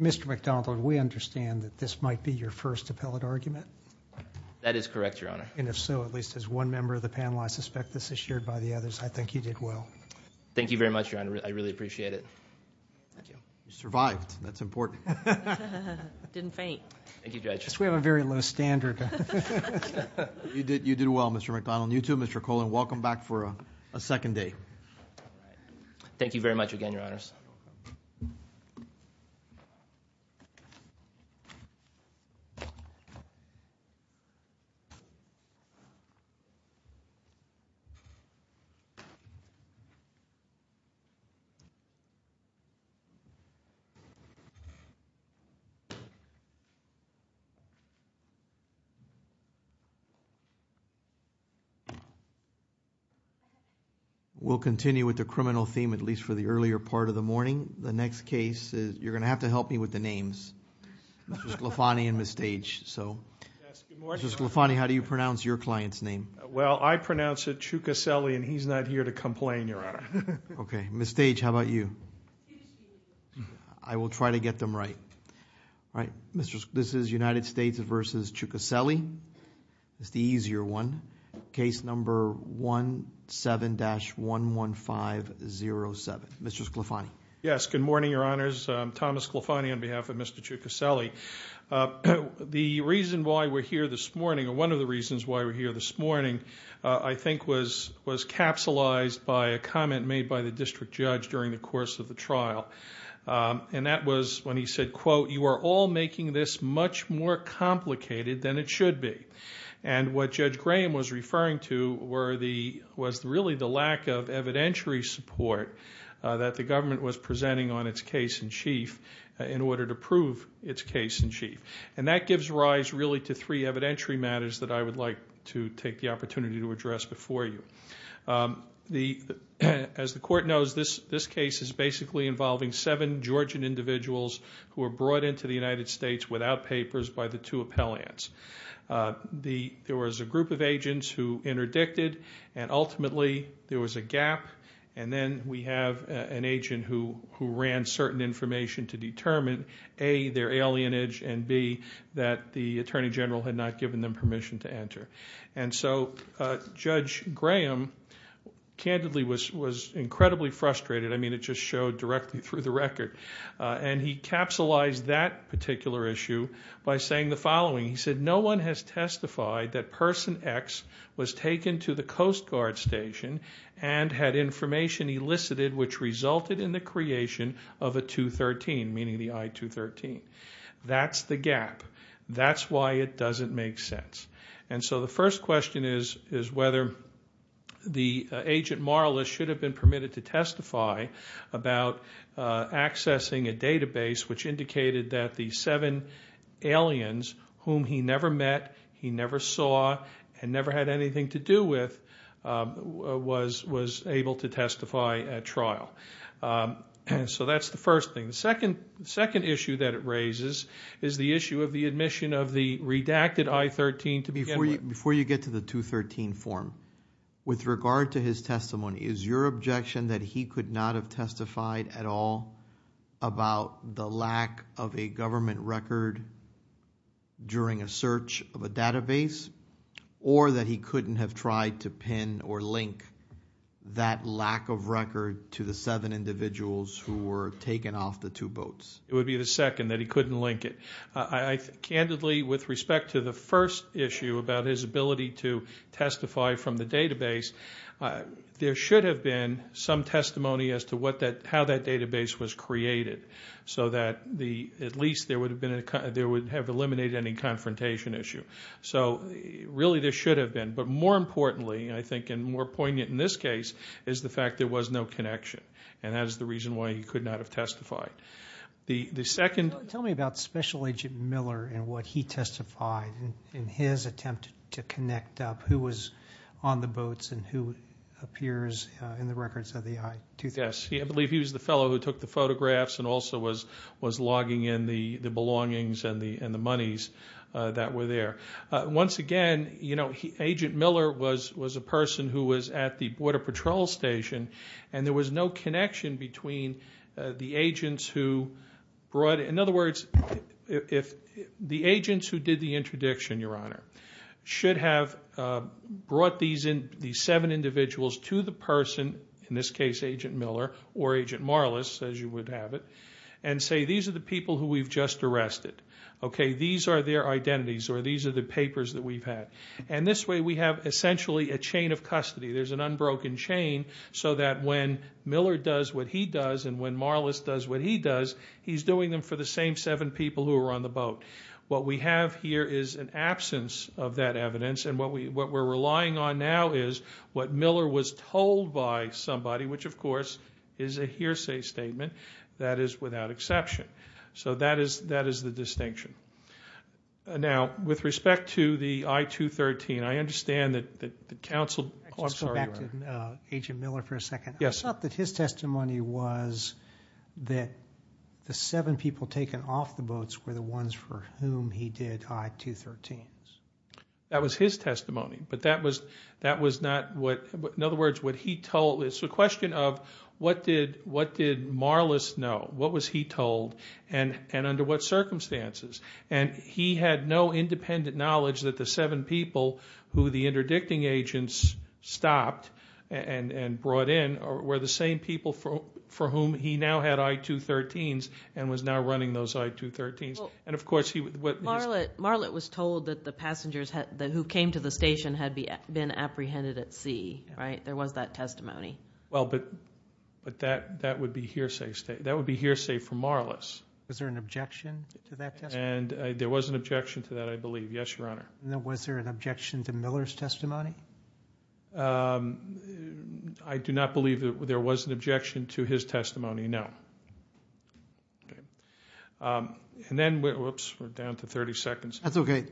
Mr. McDonald, we understand that this might be your first appellate argument. That is correct, Your Honor. And if so, at least as one member of the panel, I suspect this is shared by the others. I think you did well. Thank you very much, Your Honor. I really appreciate it. Thank you. You survived. That's important. It didn't faint. Thank you, Judge. I guess we have a very low standard. You did well, Mr. McDonald. You too, Mr. Kohlen. Welcome back for a second day. Thank you very much again, Your Honors. We'll continue with the criminal theme, at least for the earlier part of the morning. The next case, you're going to have to help me with the names, Mr. Sclafani and Ms. Stage. So, Mr. Sclafani, how do you pronounce your client's name? Well, I pronounce it Chukaseli, and he's not here to complain, Your Honor. Okay. Ms. Stage, how about you? I will try to get them right. This is United States v. Chukaseli. It's the easier one. Case number 17-11507. Mr. Sclafani. Yes. Good morning, Your Honors. I'm Thomas Sclafani on behalf of Mr. Chukaseli. The reason why we're here this morning, or one of the reasons why we're here this morning, I think was capsulized by a comment made by the district judge during the course of the trial, and that was when he said, quote, you are all making this much more complicated than it should be. And what Judge Graham was referring to was really the lack of evidentiary support that the government was presenting on its case-in-chief in order to prove its case-in-chief. And that gives rise, really, to three evidentiary matters that I would like to take the opportunity to address before you. As the Court knows, this case is basically involving seven Georgian individuals who were brought into the United States without papers by the two appellants. There was a group of agents who interdicted, and ultimately there was a gap, and then we have an agent who ran certain information to determine, A, their alienage, and, B, that the Attorney General had not given them permission to enter. And so Judge Graham, candidly, was incredibly frustrated. I mean, it just showed directly through the record. And he capsulized that particular issue by saying the following. He said, no one has testified that Person X was taken to the Coast Guard Station and had information elicited which resulted in the creation of a 213, meaning the I-213. That's the gap. That's why it doesn't make sense. And so the first question is whether the agent, Marla, should have been permitted to testify about accessing a database which indicated that the seven aliens whom he never met, he was able to testify at trial. So that's the first thing. The second issue that it raises is the issue of the admission of the redacted I-13 to begin with. Before you get to the 213 form, with regard to his testimony, is your objection that he could not have testified at all about the lack of a government record during a search of a database or that he couldn't have tried to pin or link that lack of record to the seven individuals who were taken off the two boats? It would be the second, that he couldn't link it. Candidly, with respect to the first issue about his ability to testify from the database, there should have been some testimony as to what that, how that database was created so that at least there would have eliminated any confrontation issue. So really, there should have been. But more importantly, I think, and more poignant in this case, is the fact that there was no connection. And that is the reason why he could not have testified. The second- Tell me about Special Agent Miller and what he testified in his attempt to connect up who was on the boats and who appears in the records of the I-2000. Yes. I believe he was the fellow who took the photographs and also was logging in the belongings and the monies that were there. Once again, Agent Miller was a person who was at the Border Patrol Station and there was no connection between the agents who brought- in other words, the agents who did the interdiction, Your Honor, should have brought these seven individuals to the person, in this case, Agent Miller or Agent Marlis, as you would have it, and say, these are the people who we've just arrested, okay? These are their identities or these are the papers that we've had. And this way, we have essentially a chain of custody. There's an unbroken chain so that when Miller does what he does and when Marlis does what he does, he's doing them for the same seven people who were on the boat. What we have here is an absence of that evidence and what we're relying on now is what Miller was told by somebody, which of course is a hearsay statement that is without exception. So that is the distinction. Now, with respect to the I-213, I understand that the counsel- I just want to go back to Agent Miller for a second. Yes, sir. I thought that his testimony was that the seven people taken off the boats were the ones for whom he did I-213s. That was his testimony, but that was not what- in other words, what he told- it's a question of what did Marlis know? What was he told and under what circumstances? And he had no independent knowledge that the seven people who the interdicting agents stopped and brought in were the same people for whom he now had I-213s and was now running those I-213s. Marlis was told that the passengers who came to the station had been apprehended at sea, right? There was that testimony. Well, but that would be hearsay for Marlis. Was there an objection to that testimony? There was an objection to that, I believe. Yes, Your Honor. Now, was there an objection to Miller's testimony? I do not believe that there was an objection to his testimony, no. Okay. And then, whoops, we're down to 30 seconds. That's okay.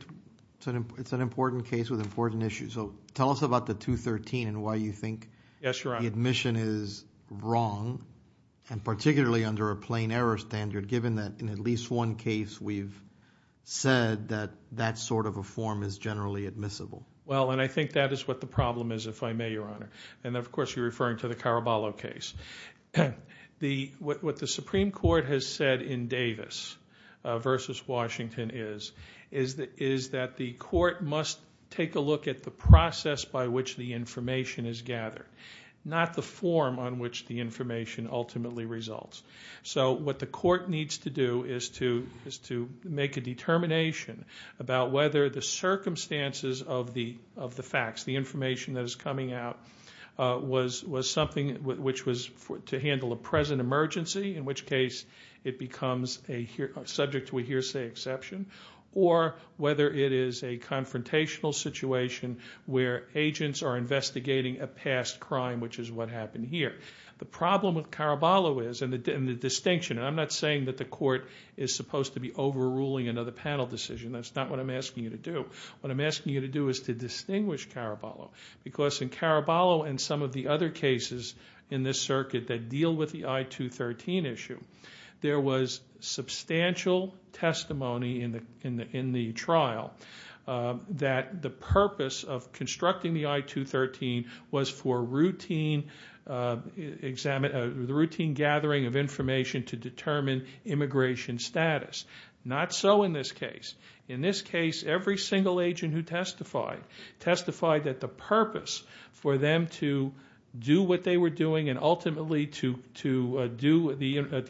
It's an important case with important issues. So, tell us about the 213 and why you think the admission is wrong and particularly under a plain error standard given that in at least one case we've said that that sort of a form is generally admissible. Well, and I think that is what the problem is, if I may, Your Honor. And of course, you're referring to the Caraballo case. What the Supreme Court has said in Davis versus Washington is that the court must take a look at the process by which the information is gathered, not the form on which the information ultimately results. So, what the court needs to do is to make a determination about whether the circumstances of the facts, the information that is coming out, was something which was to handle a present emergency, in which case it becomes subject to a hearsay exception, or whether it is a confrontational situation where agents are investigating a past crime, which is what happened here. The problem with Caraballo is, and the distinction, and I'm not saying that the court is supposed to be overruling another panel decision. That's not what I'm asking you to do. What I'm asking you to do is to distinguish Caraballo. Because in Caraballo and some of the other cases in this circuit that deal with the I-213 issue, there was substantial testimony in the trial that the purpose of constructing the I-213 was for routine gathering of information to determine immigration status. Not so in this case. In this case, every single agent who testified, testified that the purpose for them to do what they were doing and ultimately to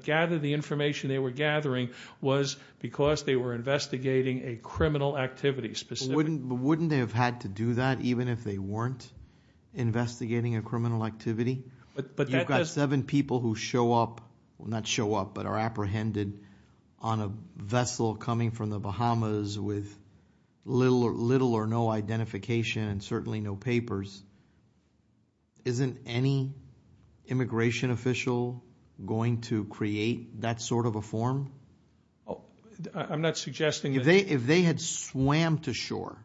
gather the information they were gathering was because they were investigating a criminal activity specifically. Wouldn't they have had to do that even if they weren't investigating a criminal activity? You've got seven people who show up, not show up, but are apprehended on a vessel coming from the Bahamas with little or no identification and certainly no papers. Isn't any immigration official going to create that sort of a form? I'm not suggesting that. If they had swam to shore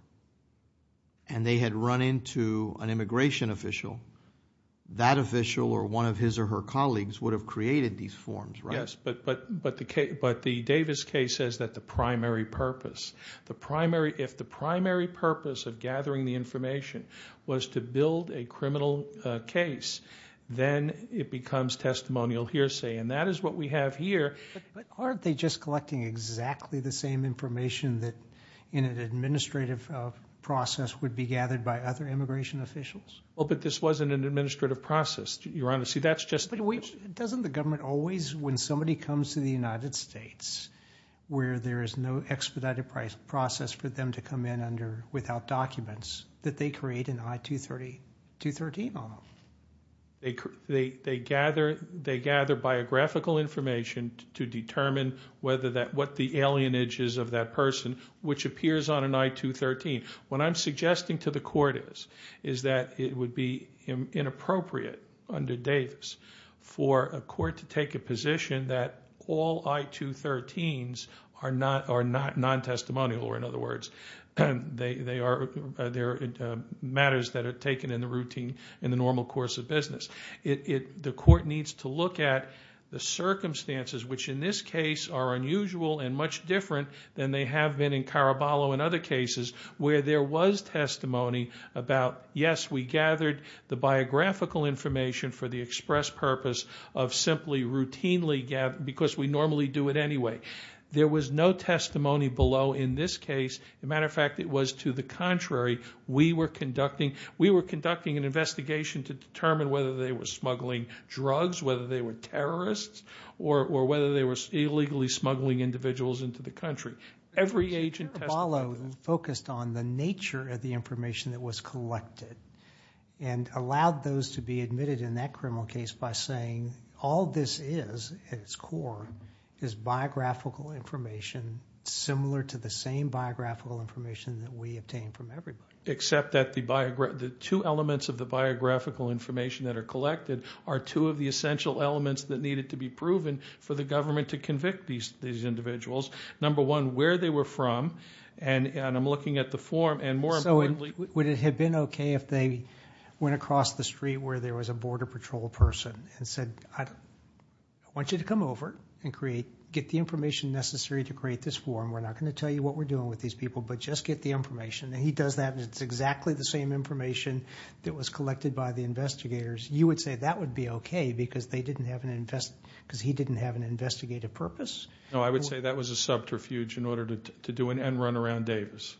and they had run into an immigration official, that official or one of his or her colleagues would have created these forms, right? But the Davis case says that the primary purpose, if the primary purpose of gathering the information was to build a criminal case, then it becomes testimonial hearsay. And that is what we have here. But aren't they just collecting exactly the same information that in an administrative process would be gathered by other immigration officials? But this wasn't an administrative process, Your Honor. Doesn't the government always, when somebody comes to the United States where there is no expedited process for them to come in without documents, that they create an I-213 on them? They gather biographical information to determine what the alienage is of that person, which appears on an I-213. What I'm suggesting to the court is that it would be inappropriate under Davis for a court to take a position that all I-213s are non-testimonial, or in other words, they are matters that are taken in the routine, in the normal course of business. The court needs to look at the circumstances, which in this case are unusual and much different than they have been in Caraballo and other cases where there was testimony about, yes, we gathered the biographical information for the express purpose of simply routinely gathering because we normally do it anyway. There was no testimony below in this case. As a matter of fact, it was to the contrary. We were conducting an investigation to determine whether they were smuggling drugs, whether they were terrorists, or whether they were illegally smuggling individuals into the country. Every agent testified. Caraballo focused on the nature of the information that was collected and allowed those to be admitted in that criminal case by saying, all this is at its core is biographical information similar to the same biographical information that we obtain from everybody. Except that the two elements of the biographical information that are collected are two of the essential elements that needed to be proven for the government to convict these individuals. Number one, where they were from, and I'm looking at the form, and more importantly... So would it have been okay if they went across the street where there was a Border Patrol person and said, I want you to come over and get the information necessary to create this form. We're not going to tell you what we're doing with these people, but just get the information. And he does that, and it's exactly the same information that was collected by the investigators. You would say that would be okay because he didn't have an investigative purpose? No, I would say that was a subterfuge in order to do an end run around Davis.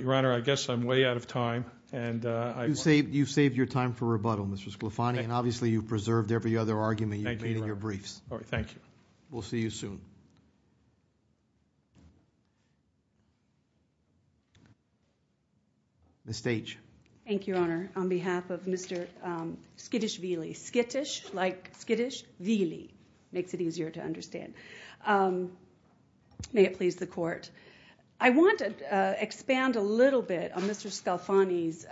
Your Honor, I guess I'm way out of time. You've saved your time for rebuttal, Mr. Scolafani, and obviously you've preserved every other argument you've made in your briefs. Thank you. We'll see you soon. Ms. Stage. Thank you, Your Honor. On behalf of Mr. Skittish Vealy. Skittish, like Skittish Vealy. Makes it easier to understand. May it please the Court. I want to expand a little bit on Mr. Scolafani's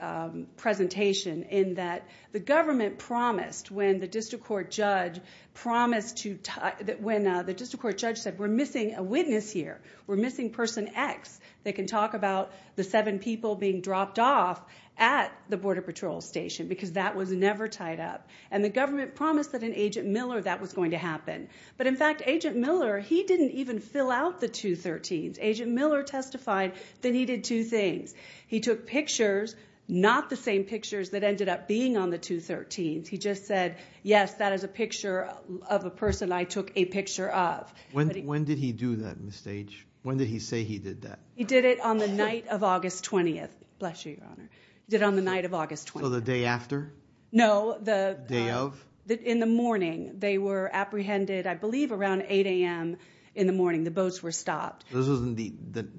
presentation in that the government promised when the district court judge said we're missing a witness here, we're missing person X, they can talk about the seven people being dropped off at the border patrol station because that was never tied up. And the government promised that in Agent Miller that was going to happen. But, in fact, Agent Miller, he didn't even fill out the 213s. Agent Miller testified that he did two things. He took pictures, not the same pictures that ended up being on the 213s. He just said, yes, that is a picture of a person I took a picture of. When did he do that, Ms. Stage? When did he say he did that? He did it on the night of August 20th. Bless you, Your Honor. He did it on the night of August 20th. So the day after? No. Day of? In the morning. They were apprehended, I believe, around 8 a.m. in the morning. The boats were stopped. This was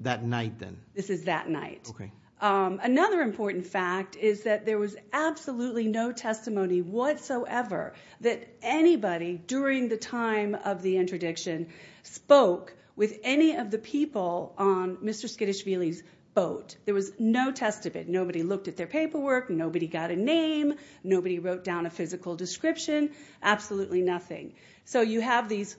that night then? This is that night. Okay. Another important fact is that there was absolutely no testimony whatsoever that anybody, during the time of the interdiction, spoke with any of the people on Mr. Skidishveili's boat. There was no testament. Nobody looked at their paperwork. Nobody got a name. Nobody wrote down a physical description. Absolutely nothing. So you have these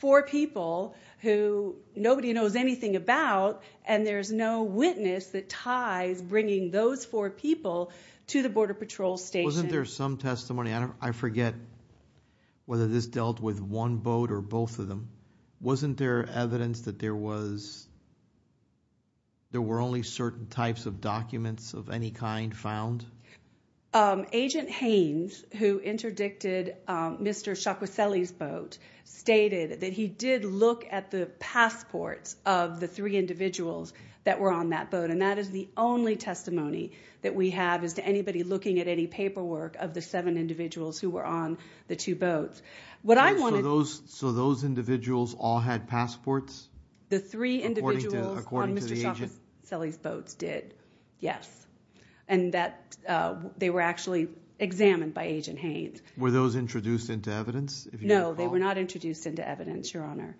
four people who nobody knows anything about, and there's no witness that ties bringing those four people to the Border Patrol Station. Wasn't there some testimony? I forget whether this dealt with one boat or both of them. Wasn't there evidence that there were only certain types of documents of any kind found? Agent Haynes, who interdicted Mr. Skidishveili's boat, stated that he did look at the passports of the three individuals that were on that boat, and that is the only testimony that we have as to anybody looking at any paperwork of the seven individuals who were on the two boats. So those individuals all had passports? The three individuals on Mr. Skidishveili's boat did, yes, and they were actually examined by Agent Haynes. Were those introduced into evidence? No, they were not introduced into evidence, Your Honor.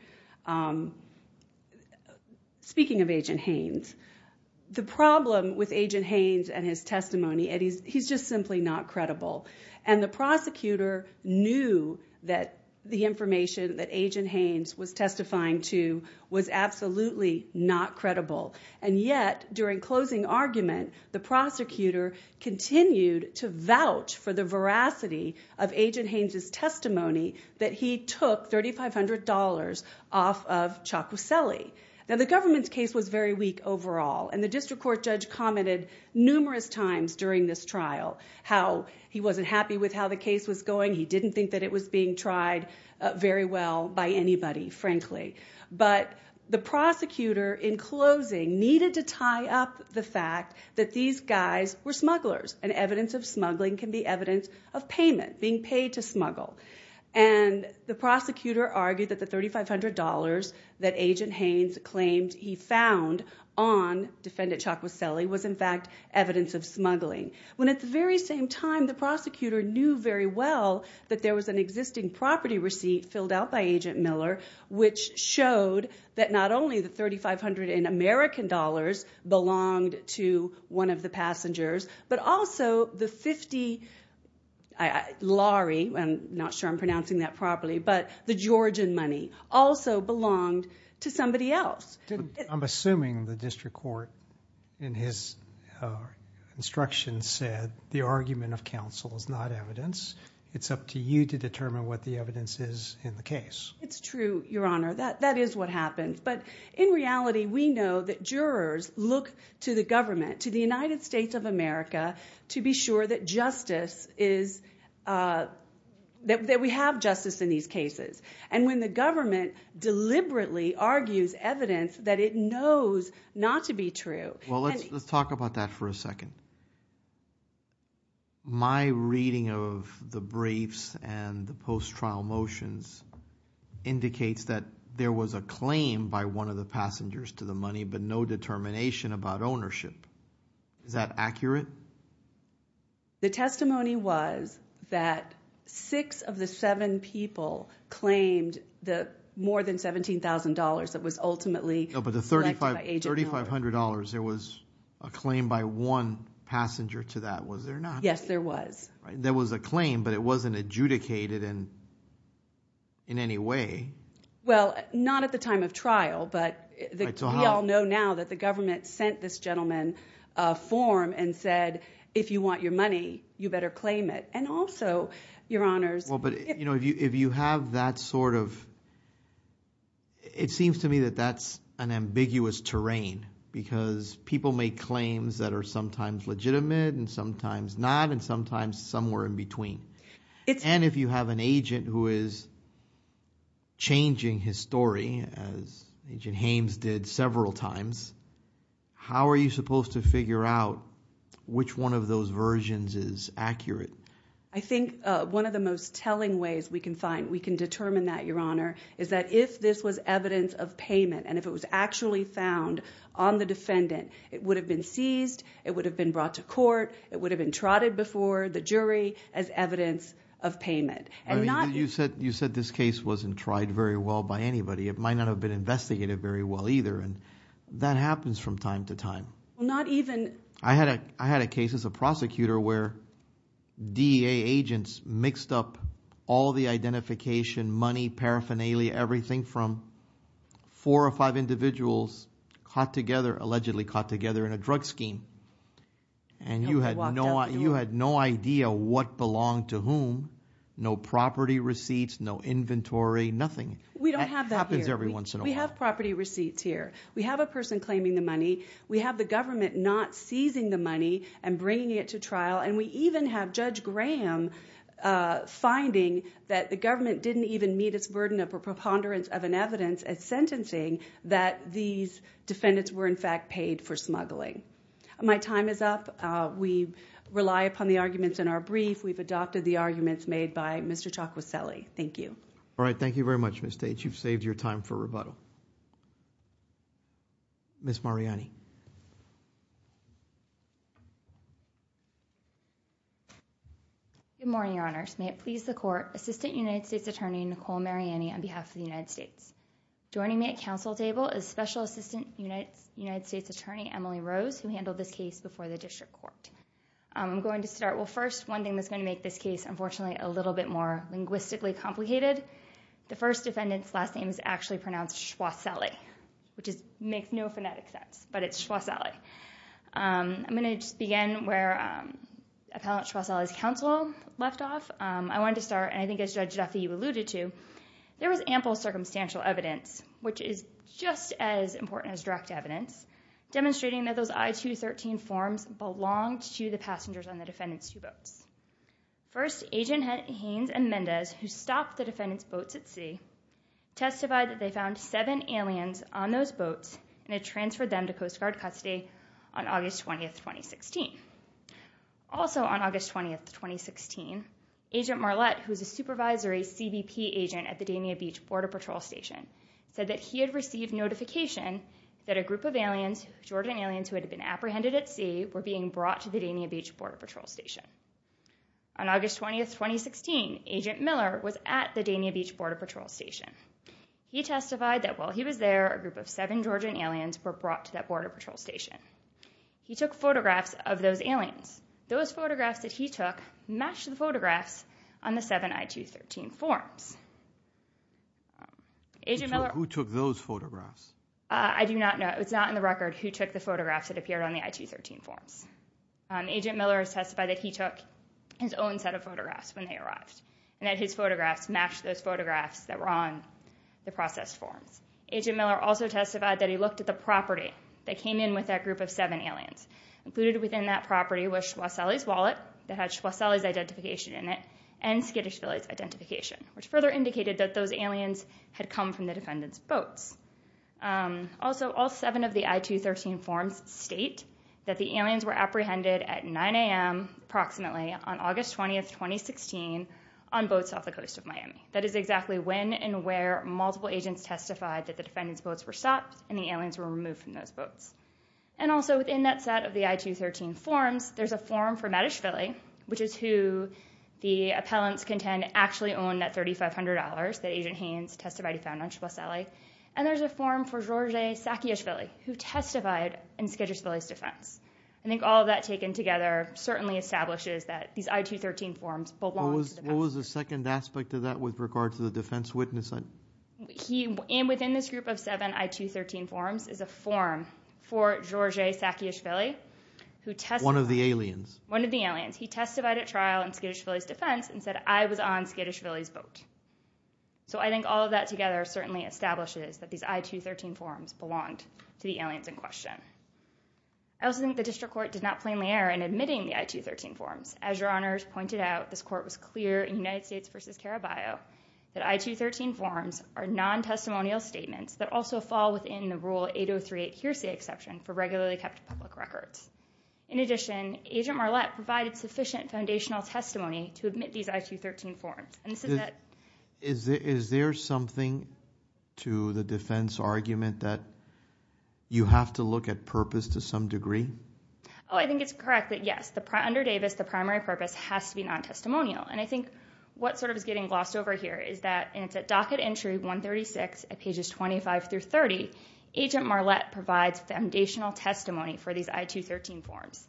Speaking of Agent Haynes, the problem with Agent Haynes and his testimony, he's just simply not credible, and the prosecutor knew that the information that Agent Haynes was testifying to was absolutely not credible, and yet during closing argument, the prosecutor continued to vouch for the veracity of Agent Haynes' testimony that he took $3,500 off of Ciacucelli. Now, the government's case was very weak overall, and the district court judge commented numerous times during this trial how he wasn't happy with how the case was going. He didn't think that it was being tried very well by anybody, frankly, but the prosecutor in closing needed to tie up the fact that these guys were smugglers, and evidence of smuggling can be evidence of payment, being paid to smuggle, and the prosecutor argued that the $3,500 that Agent Haynes claimed he found on Defendant Ciacucelli was, in fact, evidence of smuggling, when at the very same time, the prosecutor knew very well that there was an existing property receipt filled out by Agent Miller which showed that not only the $3,500 in American dollars belonged to one of the passengers, but also the 50 lari, I'm not sure I'm pronouncing that properly, but the Georgian money also belonged to somebody else. I'm assuming the district court, in his instructions, said the argument of counsel is not evidence. It's up to you to determine what the evidence is in the case. It's true, Your Honor. That is what happened. But in reality, we know that jurors look to the government, to the United States of America, to be sure that justice is, that we have justice in these cases. And when the government deliberately argues evidence that it knows not to be true. Well, let's talk about that for a second. My reading of the briefs and the post-trial motions indicates that there was a claim by one of the passengers to the money, but no determination about ownership. Is that accurate? The testimony was that six of the seven people claimed the more than $17,000 that was ultimately collected by Agent Miller. $17,000, there was a claim by one passenger to that, was there not? Yes, there was. There was a claim, but it wasn't adjudicated in any way. Well, not at the time of trial, but we all know now that the government sent this gentleman a form and said, if you want your money, you better claim it. And also, Your Honors. Well, but if you have that sort of – it seems to me that that's an ambiguous terrain because people make claims that are sometimes legitimate and sometimes not and sometimes somewhere in between. And if you have an agent who is changing his story, as Agent Hames did several times, how are you supposed to figure out which one of those versions is accurate? I think one of the most telling ways we can find, we can determine that, Your Honor, is that if this was evidence of payment and if it was actually found on the defendant, it would have been seized, it would have been brought to court, it would have been trotted before the jury as evidence of payment. You said this case wasn't tried very well by anybody. It might not have been investigated very well either, and that happens from time to time. I had a case as a prosecutor where DEA agents mixed up all the identification, money, paraphernalia, everything from four or five individuals allegedly caught together in a drug scheme. And you had no idea what belonged to whom, no property receipts, no inventory, nothing. We don't have that here. We have property receipts here. We have a person claiming the money. We have the government not seizing the money and bringing it to trial, and we even have Judge Graham finding that the government didn't even meet its burden of a preponderance of an evidence as sentencing that these defendants were in fact paid for smuggling. My time is up. We rely upon the arguments in our brief. We've adopted the arguments made by Mr. Chokwasele. Thank you. All right. Thank you very much, Ms. Tate. You've saved your time for rebuttal. Ms. Mariani. Good morning, Your Honors. May it please the Court, Assistant United States Attorney Nicole Mariani on behalf of the United States. Joining me at Council table is Special Assistant United States Attorney Emily Rose, who handled this case before the District Court. I'm going to start. Well, first, one thing that's going to make this case, unfortunately, a little bit more linguistically complicated. The first defendant's last name is actually pronounced Chokwasele, which makes no phonetic sense, but it's Chokwasele. I'm going to just begin where Appellant Chokwasele's counsel left off. I wanted to start, and I think as Judge Duffy alluded to, there was ample circumstantial evidence, which is just as important as direct evidence, demonstrating that those I-213 forms belonged to the passengers on the defendant's two boats. First, Agent Haynes and Mendez, who stopped the defendant's boats at sea, testified that they found seven aliens on those boats and had transferred them to Coast Guard custody on August 20th, 2016. Also on August 20th, 2016, Agent Marlette, who is a supervisory CBP agent at the Dania Beach Border Patrol Station, said that he had received notification that a group of aliens, Georgian aliens who had been apprehended at sea, were being brought to the Dania Beach Border Patrol Station. On August 20th, 2016, Agent Miller was at the Dania Beach Border Patrol Station. He testified that while he was there, a group of seven Georgian aliens were brought to that Border Patrol Station. He took photographs of those aliens. Those photographs that he took matched the photographs on the seven I-213 forms. Agent Miller... Who took those photographs? I do not know. It's not in the record who took the photographs that appeared on the I-213 forms. Agent Miller testified that he took his own set of photographs when they arrived and that his photographs matched those photographs that were on the processed forms. Agent Miller also testified that he looked at the property that came in with that group of seven aliens. Included within that property was Schwozeli's wallet that had Schwozeli's identification in it and Skidishvili's identification, which further indicated that those aliens had come from the defendant's boats. Also, all seven of the I-213 forms state that the aliens were apprehended at 9 a.m. approximately on August 20, 2016 on boats off the coast of Miami. That is exactly when and where multiple agents testified that the defendant's boats were stopped and the aliens were removed from those boats. Also, within that set of the I-213 forms, there's a form for Matishvili, which is who the appellants contend actually owned that $3,500 that Agent Haynes testified he found on Schwozeli, and there's a form for George Sakishvili, who testified in Skidishvili's defense. I think all of that taken together certainly establishes that these I-213 forms belonged to the defendant. What was the second aspect of that with regard to the defense witness? Within this group of seven I-213 forms is a form for George Sakishvili, who testified... One of the aliens. One of the aliens. He testified at trial in Skidishvili's defense and said, I was on Skidishvili's boat. I think all of that together certainly establishes that these I-213 forms belonged to the aliens in question. I also think the district court did not plainly err in admitting the I-213 forms. As your honors pointed out, this court was clear in United States v. Caraballo that I-213 forms are non-testimonial statements that also fall within the rule 8038 hearsay exception for regularly kept public records. In addition, Agent Marlette provided sufficient foundational testimony to admit these I-213 forms. And this is that... Is there something to the defense argument that you have to look at purpose to some degree? Oh, I think it's correct that yes. Under Davis, the primary purpose has to be non-testimonial. And I think what sort of is getting glossed over here is that, and it's at docket entry 136 at pages 25 through 30, Agent Marlette provides foundational testimony for these I-213 forms.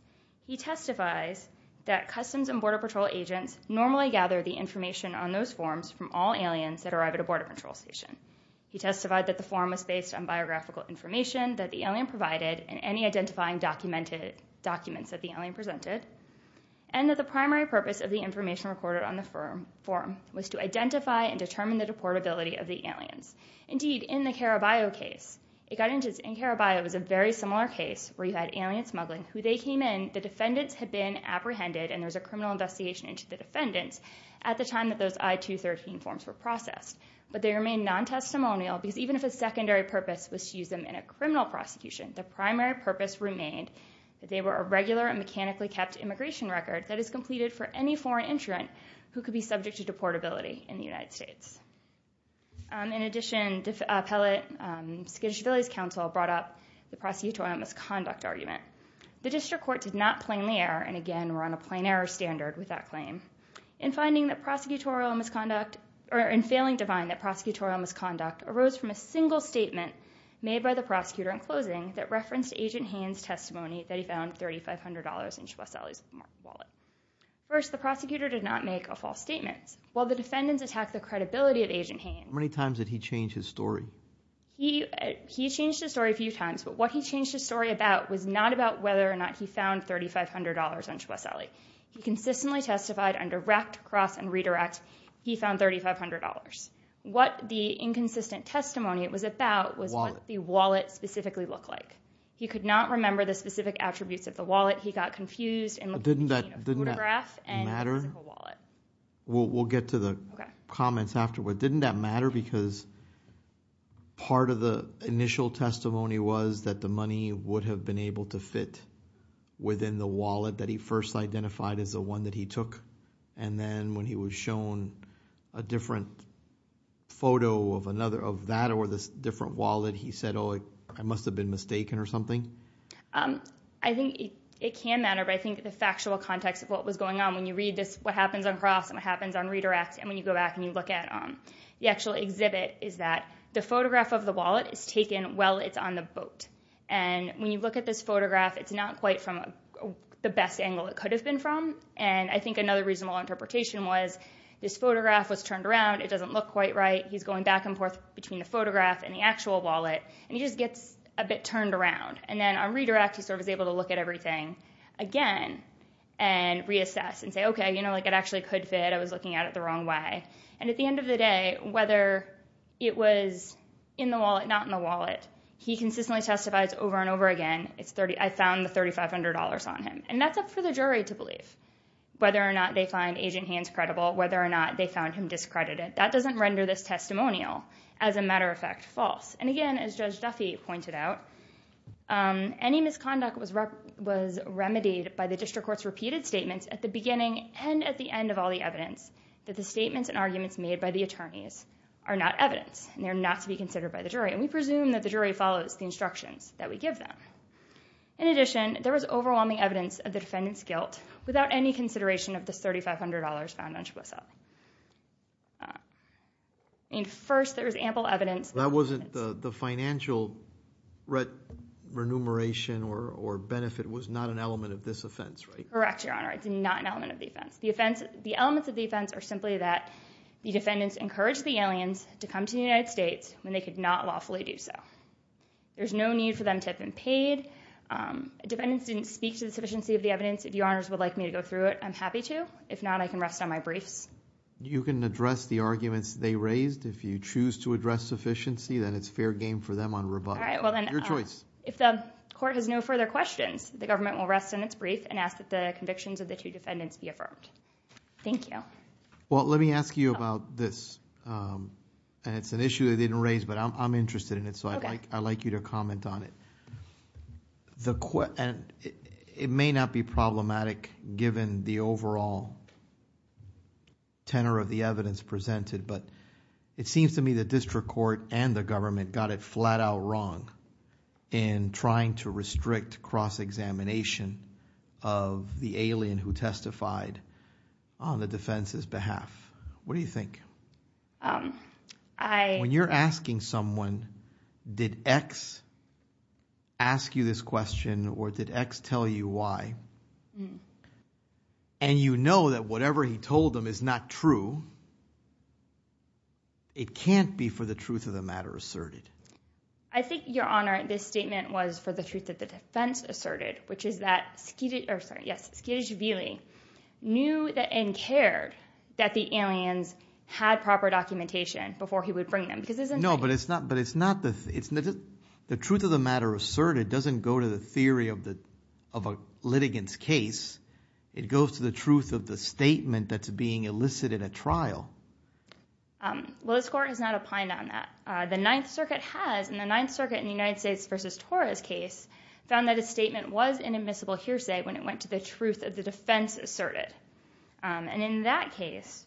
He testifies that Customs and Border Patrol agents normally gather the information on those forms from all aliens that arrive at a Border Patrol station. He testified that the form was based on biographical information that the alien provided and any identifying documents that the alien presented and that the primary purpose of the information recorded on the form was to identify and determine the deportability of the aliens. Indeed, in the Caraballo case, it got into... In Caraballo, it was a very similar case where you had alien smuggling, who they came in, the defendants had been apprehended and there was a criminal investigation into the defendants at the time that those I-213 forms were processed. But they remain non-testimonial because even if a secondary purpose was to use them in a criminal prosecution, the primary purpose remained that they were a regular and mechanically-kept immigration record that is completed for any foreign entrant who could be subject to deportability in the United States. In addition, Appellate Skidoshvili's counsel brought up the prosecutorial misconduct argument. The district court did not plainly err, and again, we're on a plain error standard with that claim. In finding that prosecutorial misconduct or in failing to find that prosecutorial misconduct arose from a single statement made by the prosecutor in closing that referenced Agent Haines' testimony that he found $3,500 in Shwesale's wallet. First, the prosecutor did not make a false statement. While the defendants attacked the credibility of Agent Haines... How many times did he change his story? He changed his story a few times, but what he changed his story about was not about whether or not he found $3,500 on Shwesale. He consistently testified on direct, cross, and redirect. He found $3,500. What the inconsistent testimony was about was what the wallet specifically looked like. He could not remember the specific attributes of the wallet. He got confused... Didn't that matter? We'll get to the comments afterward. Didn't that matter because part of the initial testimony was that the money would have been able to fit within the wallet that he first identified as the one that he took, and then when he was shown a different photo of that or this different wallet, he said, oh, I must have been mistaken or something? I think it can matter, but I think the factual context of what was going on when you read what happens on cross and what happens on redirect and when you go back and you look at the actual exhibit is that the photograph of the wallet is taken while it's on the boat, and when you look at this photograph, it's not quite from the best angle it could have been from, and I think another reasonable interpretation was this photograph was turned around. It doesn't look quite right. He's going back and forth between the photograph and the actual wallet, and he just gets a bit turned around, and then on redirect, he's able to look at everything again and reassess and say, okay, it actually could fit. I was looking at it the wrong way, and at the end of the day, whether it was in the wallet, not in the wallet, he consistently testifies over and over again, I found the $3,500 on him, and that's up for the jury to believe, whether or not they find Agent Hands credible, whether or not they found him discredited. That doesn't render this testimonial, as a matter of fact, false, and again, as Judge Duffy pointed out, any misconduct was remedied by the district court's repeated statements at the beginning and at the end of all the evidence that the statements and arguments made by the attorneys are not evidence and they're not to be considered by the jury, and we presume that the jury follows the instructions that we give them. In addition, there was overwhelming evidence of the defendant's guilt without any consideration of the $3,500 found on Chaboussel. First, there was ample evidence... That wasn't the financial remuneration or benefit. It was not an element of this offense, right? Correct, Your Honor. It's not an element of the offense. The elements of the offense are simply that the defendants encouraged the aliens to come to the United States when they could not lawfully do so. There's no need for them to have been paid. Defendants didn't speak to the sufficiency of the evidence. If Your Honors would like me to go through it, I'm happy to. If not, I can rest on my briefs. You can address the arguments they raised. If you choose to address sufficiency, then it's fair game for them on rebuttal. All right, well then... Your choice. If the court has no further questions, the government will rest on its brief and ask that the convictions of the two defendants be affirmed. Thank you. Well, let me ask you about this, and it's an issue they didn't raise, but I'm interested in it, so I'd like you to comment on it. It may not be problematic given the overall tenor of the evidence presented, but it seems to me the district court and the government got it flat out wrong in trying to restrict cross-examination of the alien who testified on the defense's behalf. What do you think? When you're asking someone, did X ask you this question, or did X tell you why, and you know that whatever he told them is not true, it can't be for the truth of the matter asserted. I think, Your Honor, this statement was for the truth of the defense asserted, which is that Skid... Oh, sorry, yes. Skidish-Vealy knew and cared that the aliens had proper documentation before he would bring them. No, but it's not... The truth of the matter asserted doesn't go to the theory of a litigant's case. It goes to the truth of the statement that's being elicited at trial. Well, this Court has not opined on that. The Ninth Circuit has, and the Ninth Circuit in the United States v. Torres case found that a statement was an admissible hearsay when it went to the truth of the defense asserted. And in that case,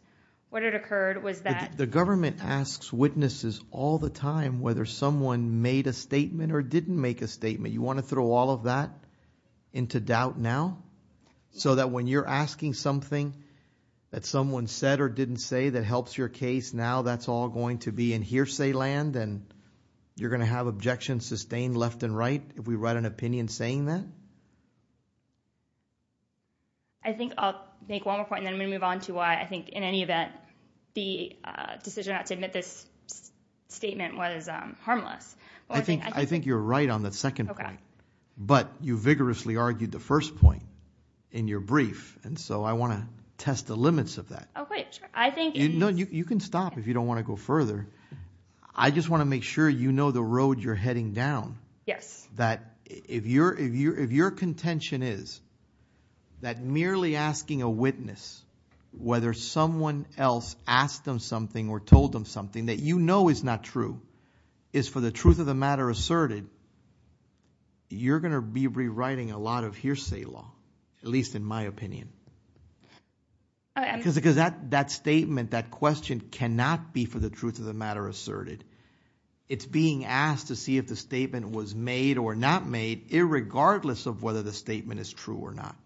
what had occurred was that... The government asks witnesses all the time whether someone made a statement or didn't make a statement. You want to throw all of that into doubt now? So that when you're asking something that someone said or didn't say that helps your case, now that's all going to be in hearsay land, and you're going to have objections sustained left and right if we write an opinion saying that? I think I'll make one more point, and then I'm going to move on to why I think in any event the decision not to admit this statement was harmless. I think you're right on the second point, but you vigorously argued the first point in your brief, and so I want to test the limits of that. Okay, sure. I think... No, you can stop if you don't want to go further. I just want to make sure you know the road you're heading down. Yes. That if your contention is that merely asking a witness whether someone else asked them something or told them something that you know is not true is for the truth of the matter asserted, you're going to be rewriting a lot of hearsay law, at least in my opinion. Because that statement, that question, cannot be for the truth of the matter asserted. It's being asked to see if the statement was made or not made irregardless of whether the statement is true or not.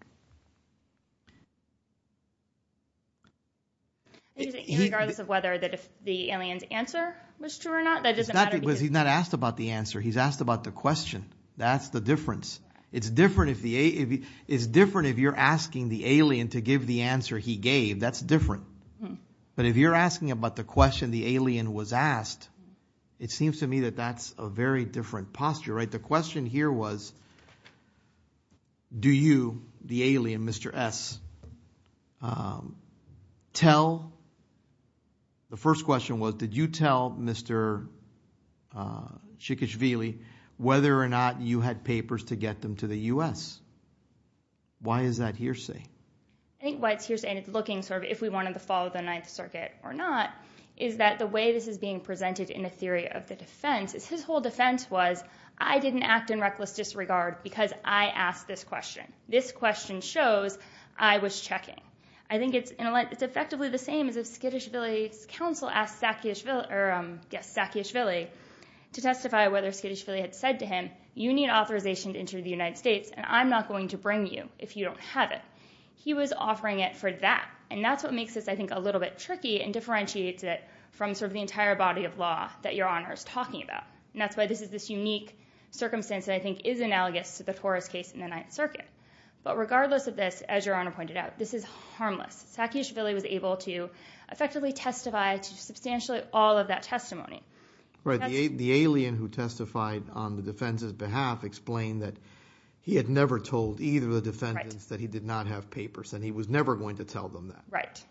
Irregardless of whether the alien's answer was true or not? That doesn't matter. Because he's not asked about the answer. He's asked about the question. That's the difference. It's different if you're asking the alien to give the answer he gave. That's different. But if you're asking about the question the alien was asked, it seems to me that that's a very different posture. The question here was, do you, the alien, Mr. S., tell? The first question was, did you tell Mr. Cikicvili whether or not you had papers to get them to the U.S.? Why is that hearsay? I think why it's hearsay and it's looking sort of if we wanted to follow the Ninth Circuit or not is that the way this is being presented in the theory of the defense is his whole defense was, I didn't act in reckless disregard because I asked this question. This question shows I was checking. I think it's effectively the same as if Skidishvili's counsel asked Sakiashvili to testify whether Skidishvili had said to him, you need authorization to enter the United States and I'm not going to bring you if you don't have it. He was offering it for that. That's what makes this, I think, a little bit tricky and differentiates it from sort of the entire body of law that Your Honor is talking about. That's why this is this unique circumstance that I think is analogous to the Torres case in the Ninth Circuit. But regardless of this, as Your Honor pointed out, this is harmless. Sakiashvili was able to effectively testify to substantially all of that testimony. The alien who testified on the defense's behalf explained that he had never told either of the defendants that he did not have papers, and he was never going to tell them that. Right,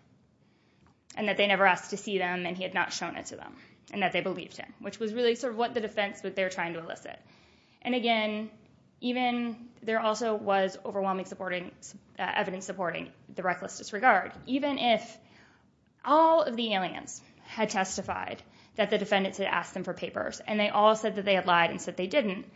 and that they never asked to see them and he had not shown it to them, and that they believed him, which was really sort of what the defense was there trying to elicit. And again, there also was overwhelming evidence supporting the reckless disregard. Even if all of the aliens had testified that the defendants had asked them for papers and they all said that they had lied and said they didn't,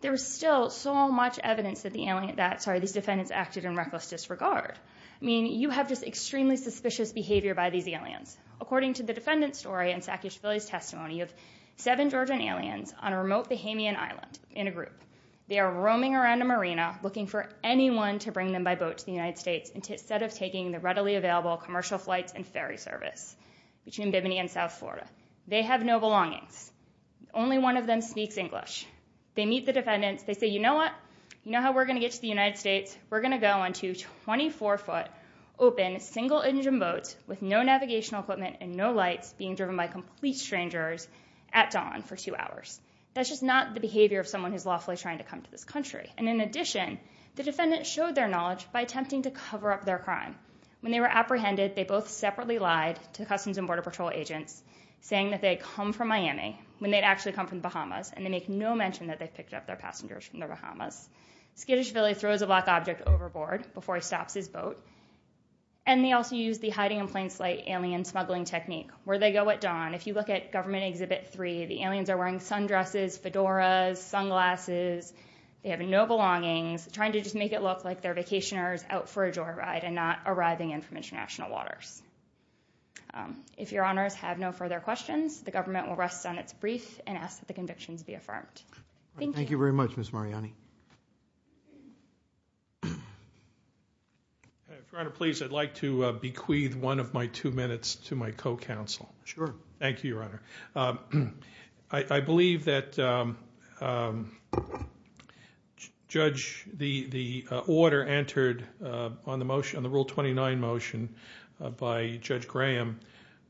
there was still so much evidence that these defendants acted in reckless disregard. I mean, you have just extremely suspicious behavior by these aliens. According to the defendant's story and Sakiashvili's testimony, you have seven Georgian aliens on a remote Bahamian island in a group. They are roaming around a marina, looking for anyone to bring them by boat to the United States instead of taking the readily available commercial flights and ferry service between Bimini and South Florida. They have no belongings. Only one of them speaks English. They meet the defendants. They say, you know what? You know how we're going to get to the United States? We're going to go on two 24-foot open single-engine boats with no navigational equipment and no lights being driven by complete strangers at dawn for two hours. That's just not the behavior of someone who's lawfully trying to come to this country. And in addition, the defendants showed their knowledge by attempting to cover up their crime. When they were apprehended, they both separately lied to Customs and Border Patrol agents saying that they had come from Miami when they'd actually come from the Bahamas, and they make no mention that they picked up their passengers from the Bahamas. Skiddishvili throws a black object overboard before he stops his boat. And they also used the hiding in plain sight alien smuggling technique. Where they go at dawn, if you look at Government Exhibit 3, the aliens are wearing sundresses, fedoras, sunglasses. They have no belongings. Trying to just make it look like they're vacationers out for a joyride and not arriving in from international waters. If Your Honors have no further questions, the government will rest on its brief and ask that the convictions be affirmed. Thank you. Thank you very much, Ms. Mariani. If Your Honor please, I'd like to bequeath one of my two minutes to my co-counsel. Sure. Thank you, Your Honor. I believe that Judge, the order entered on the rule 29 motion by Judge Graham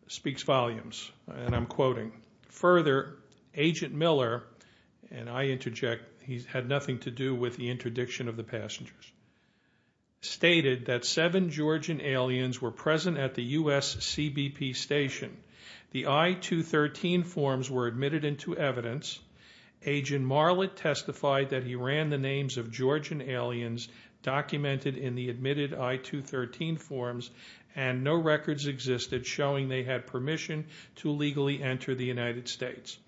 speaks volumes, and I'm quoting. Further, Agent Miller, and I interject, he had nothing to do with the interdiction of the passengers, stated that seven Georgian aliens were present at the U.S. CBP station. The I-213 forms were admitted into evidence. Agent Marlett testified that he ran the names of Georgian aliens documented in the admitted I-213 forms, and no records existed showing they had permission to legally enter the United States.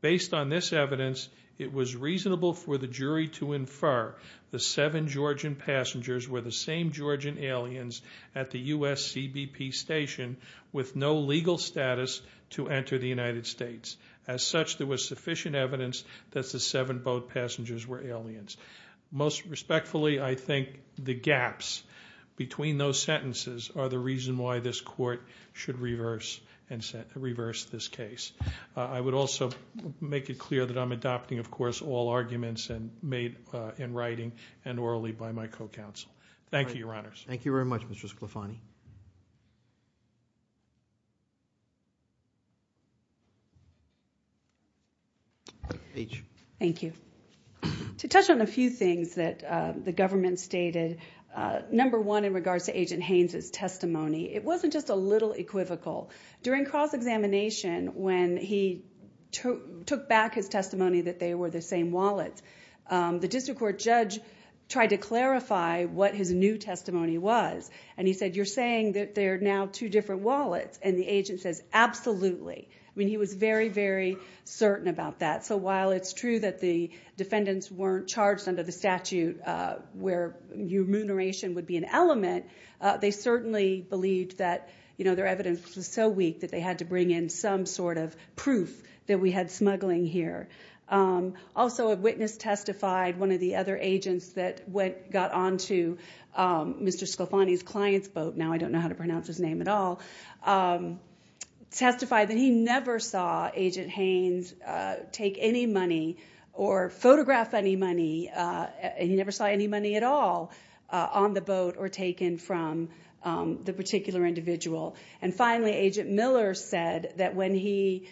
Based on this evidence, it was reasonable for the jury to infer the seven Georgian passengers were the same Georgian aliens at the U.S. CBP station with no legal status to enter the United States. As such, there was sufficient evidence that the seven boat passengers were aliens. Most respectfully, I think the gaps between those sentences are the reason why this court should reverse this case. I would also make it clear that I'm adopting, of course, all arguments made in writing and orally by my co-counsel. Thank you, Your Honors. Thank you very much, Mr. Sclafani. Thank you. To touch on a few things that the government stated, number one in regards to Agent Haynes' testimony, it wasn't just a little equivocal. During cross-examination, when he took back his testimony that they were the same wallets, the district court judge tried to clarify what his new testimony was, and he said, you're saying that they're now two different wallets, and the agent says, absolutely. I mean, he was very, very certain about that. So while it's true that the defendants weren't charged under the statute where remuneration would be an element, they certainly believed that their evidence was so weak that they had to bring in some sort of proof that we had smuggling here. Also, a witness testified, one of the other agents that got onto Mr. Sclafani's client's boat, now I don't know how to pronounce his name at all, testified that he never saw Agent Haynes take any money or photograph any money, and he never saw any money at all on the boat or taken from the particular individual. And finally, Agent Miller said that when he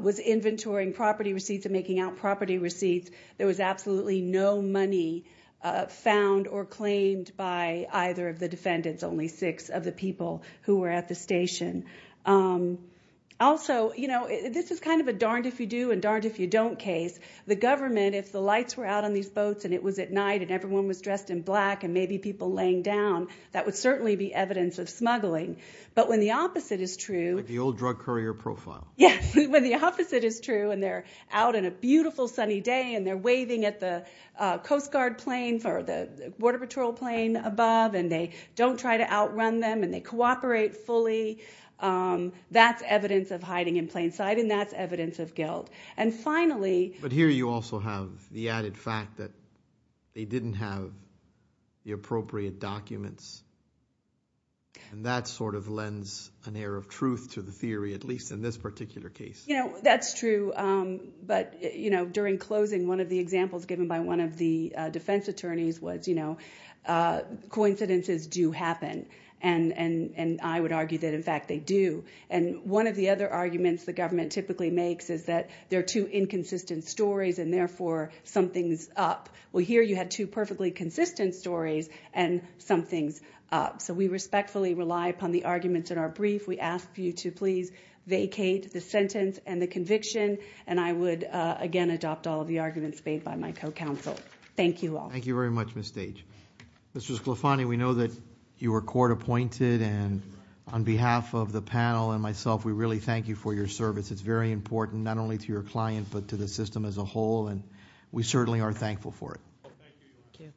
was inventorying property receipts and making out property receipts, there was absolutely no money found or claimed by either of the defendants, and there was only six of the people who were at the station. Also, this is kind of a darned-if-you-do and darned-if-you-don't case. The government, if the lights were out on these boats and it was at night and everyone was dressed in black and maybe people laying down, that would certainly be evidence of smuggling. But when the opposite is true... Like the old drug courier profile. Yes, when the opposite is true and they're out on a beautiful sunny day and they're waving at the Coast Guard plane or the Border Patrol plane above and they don't try to outrun them and they cooperate fully, that's evidence of hiding in plain sight and that's evidence of guilt. And finally... But here you also have the added fact that they didn't have the appropriate documents, and that sort of lends an air of truth to the theory, at least in this particular case. That's true, but during closing, one of the examples given by one of the defense attorneys was coincidences do happen, and I would argue that, in fact, they do. And one of the other arguments the government typically makes is that there are two inconsistent stories and, therefore, something's up. Well, here you had two perfectly consistent stories and something's up. So we respectfully rely upon the arguments in our brief. We ask you to please vacate the sentence and the conviction, and I would, again, adopt all of the arguments made by my co-counsel. Thank you all. Thank you very much, Ms. Stage. Mr. Sclofani, we know that you were court-appointed, and on behalf of the panel and myself, we really thank you for your service. It's very important not only to your client but to the system as a whole, and we certainly are thankful for it. Thank you.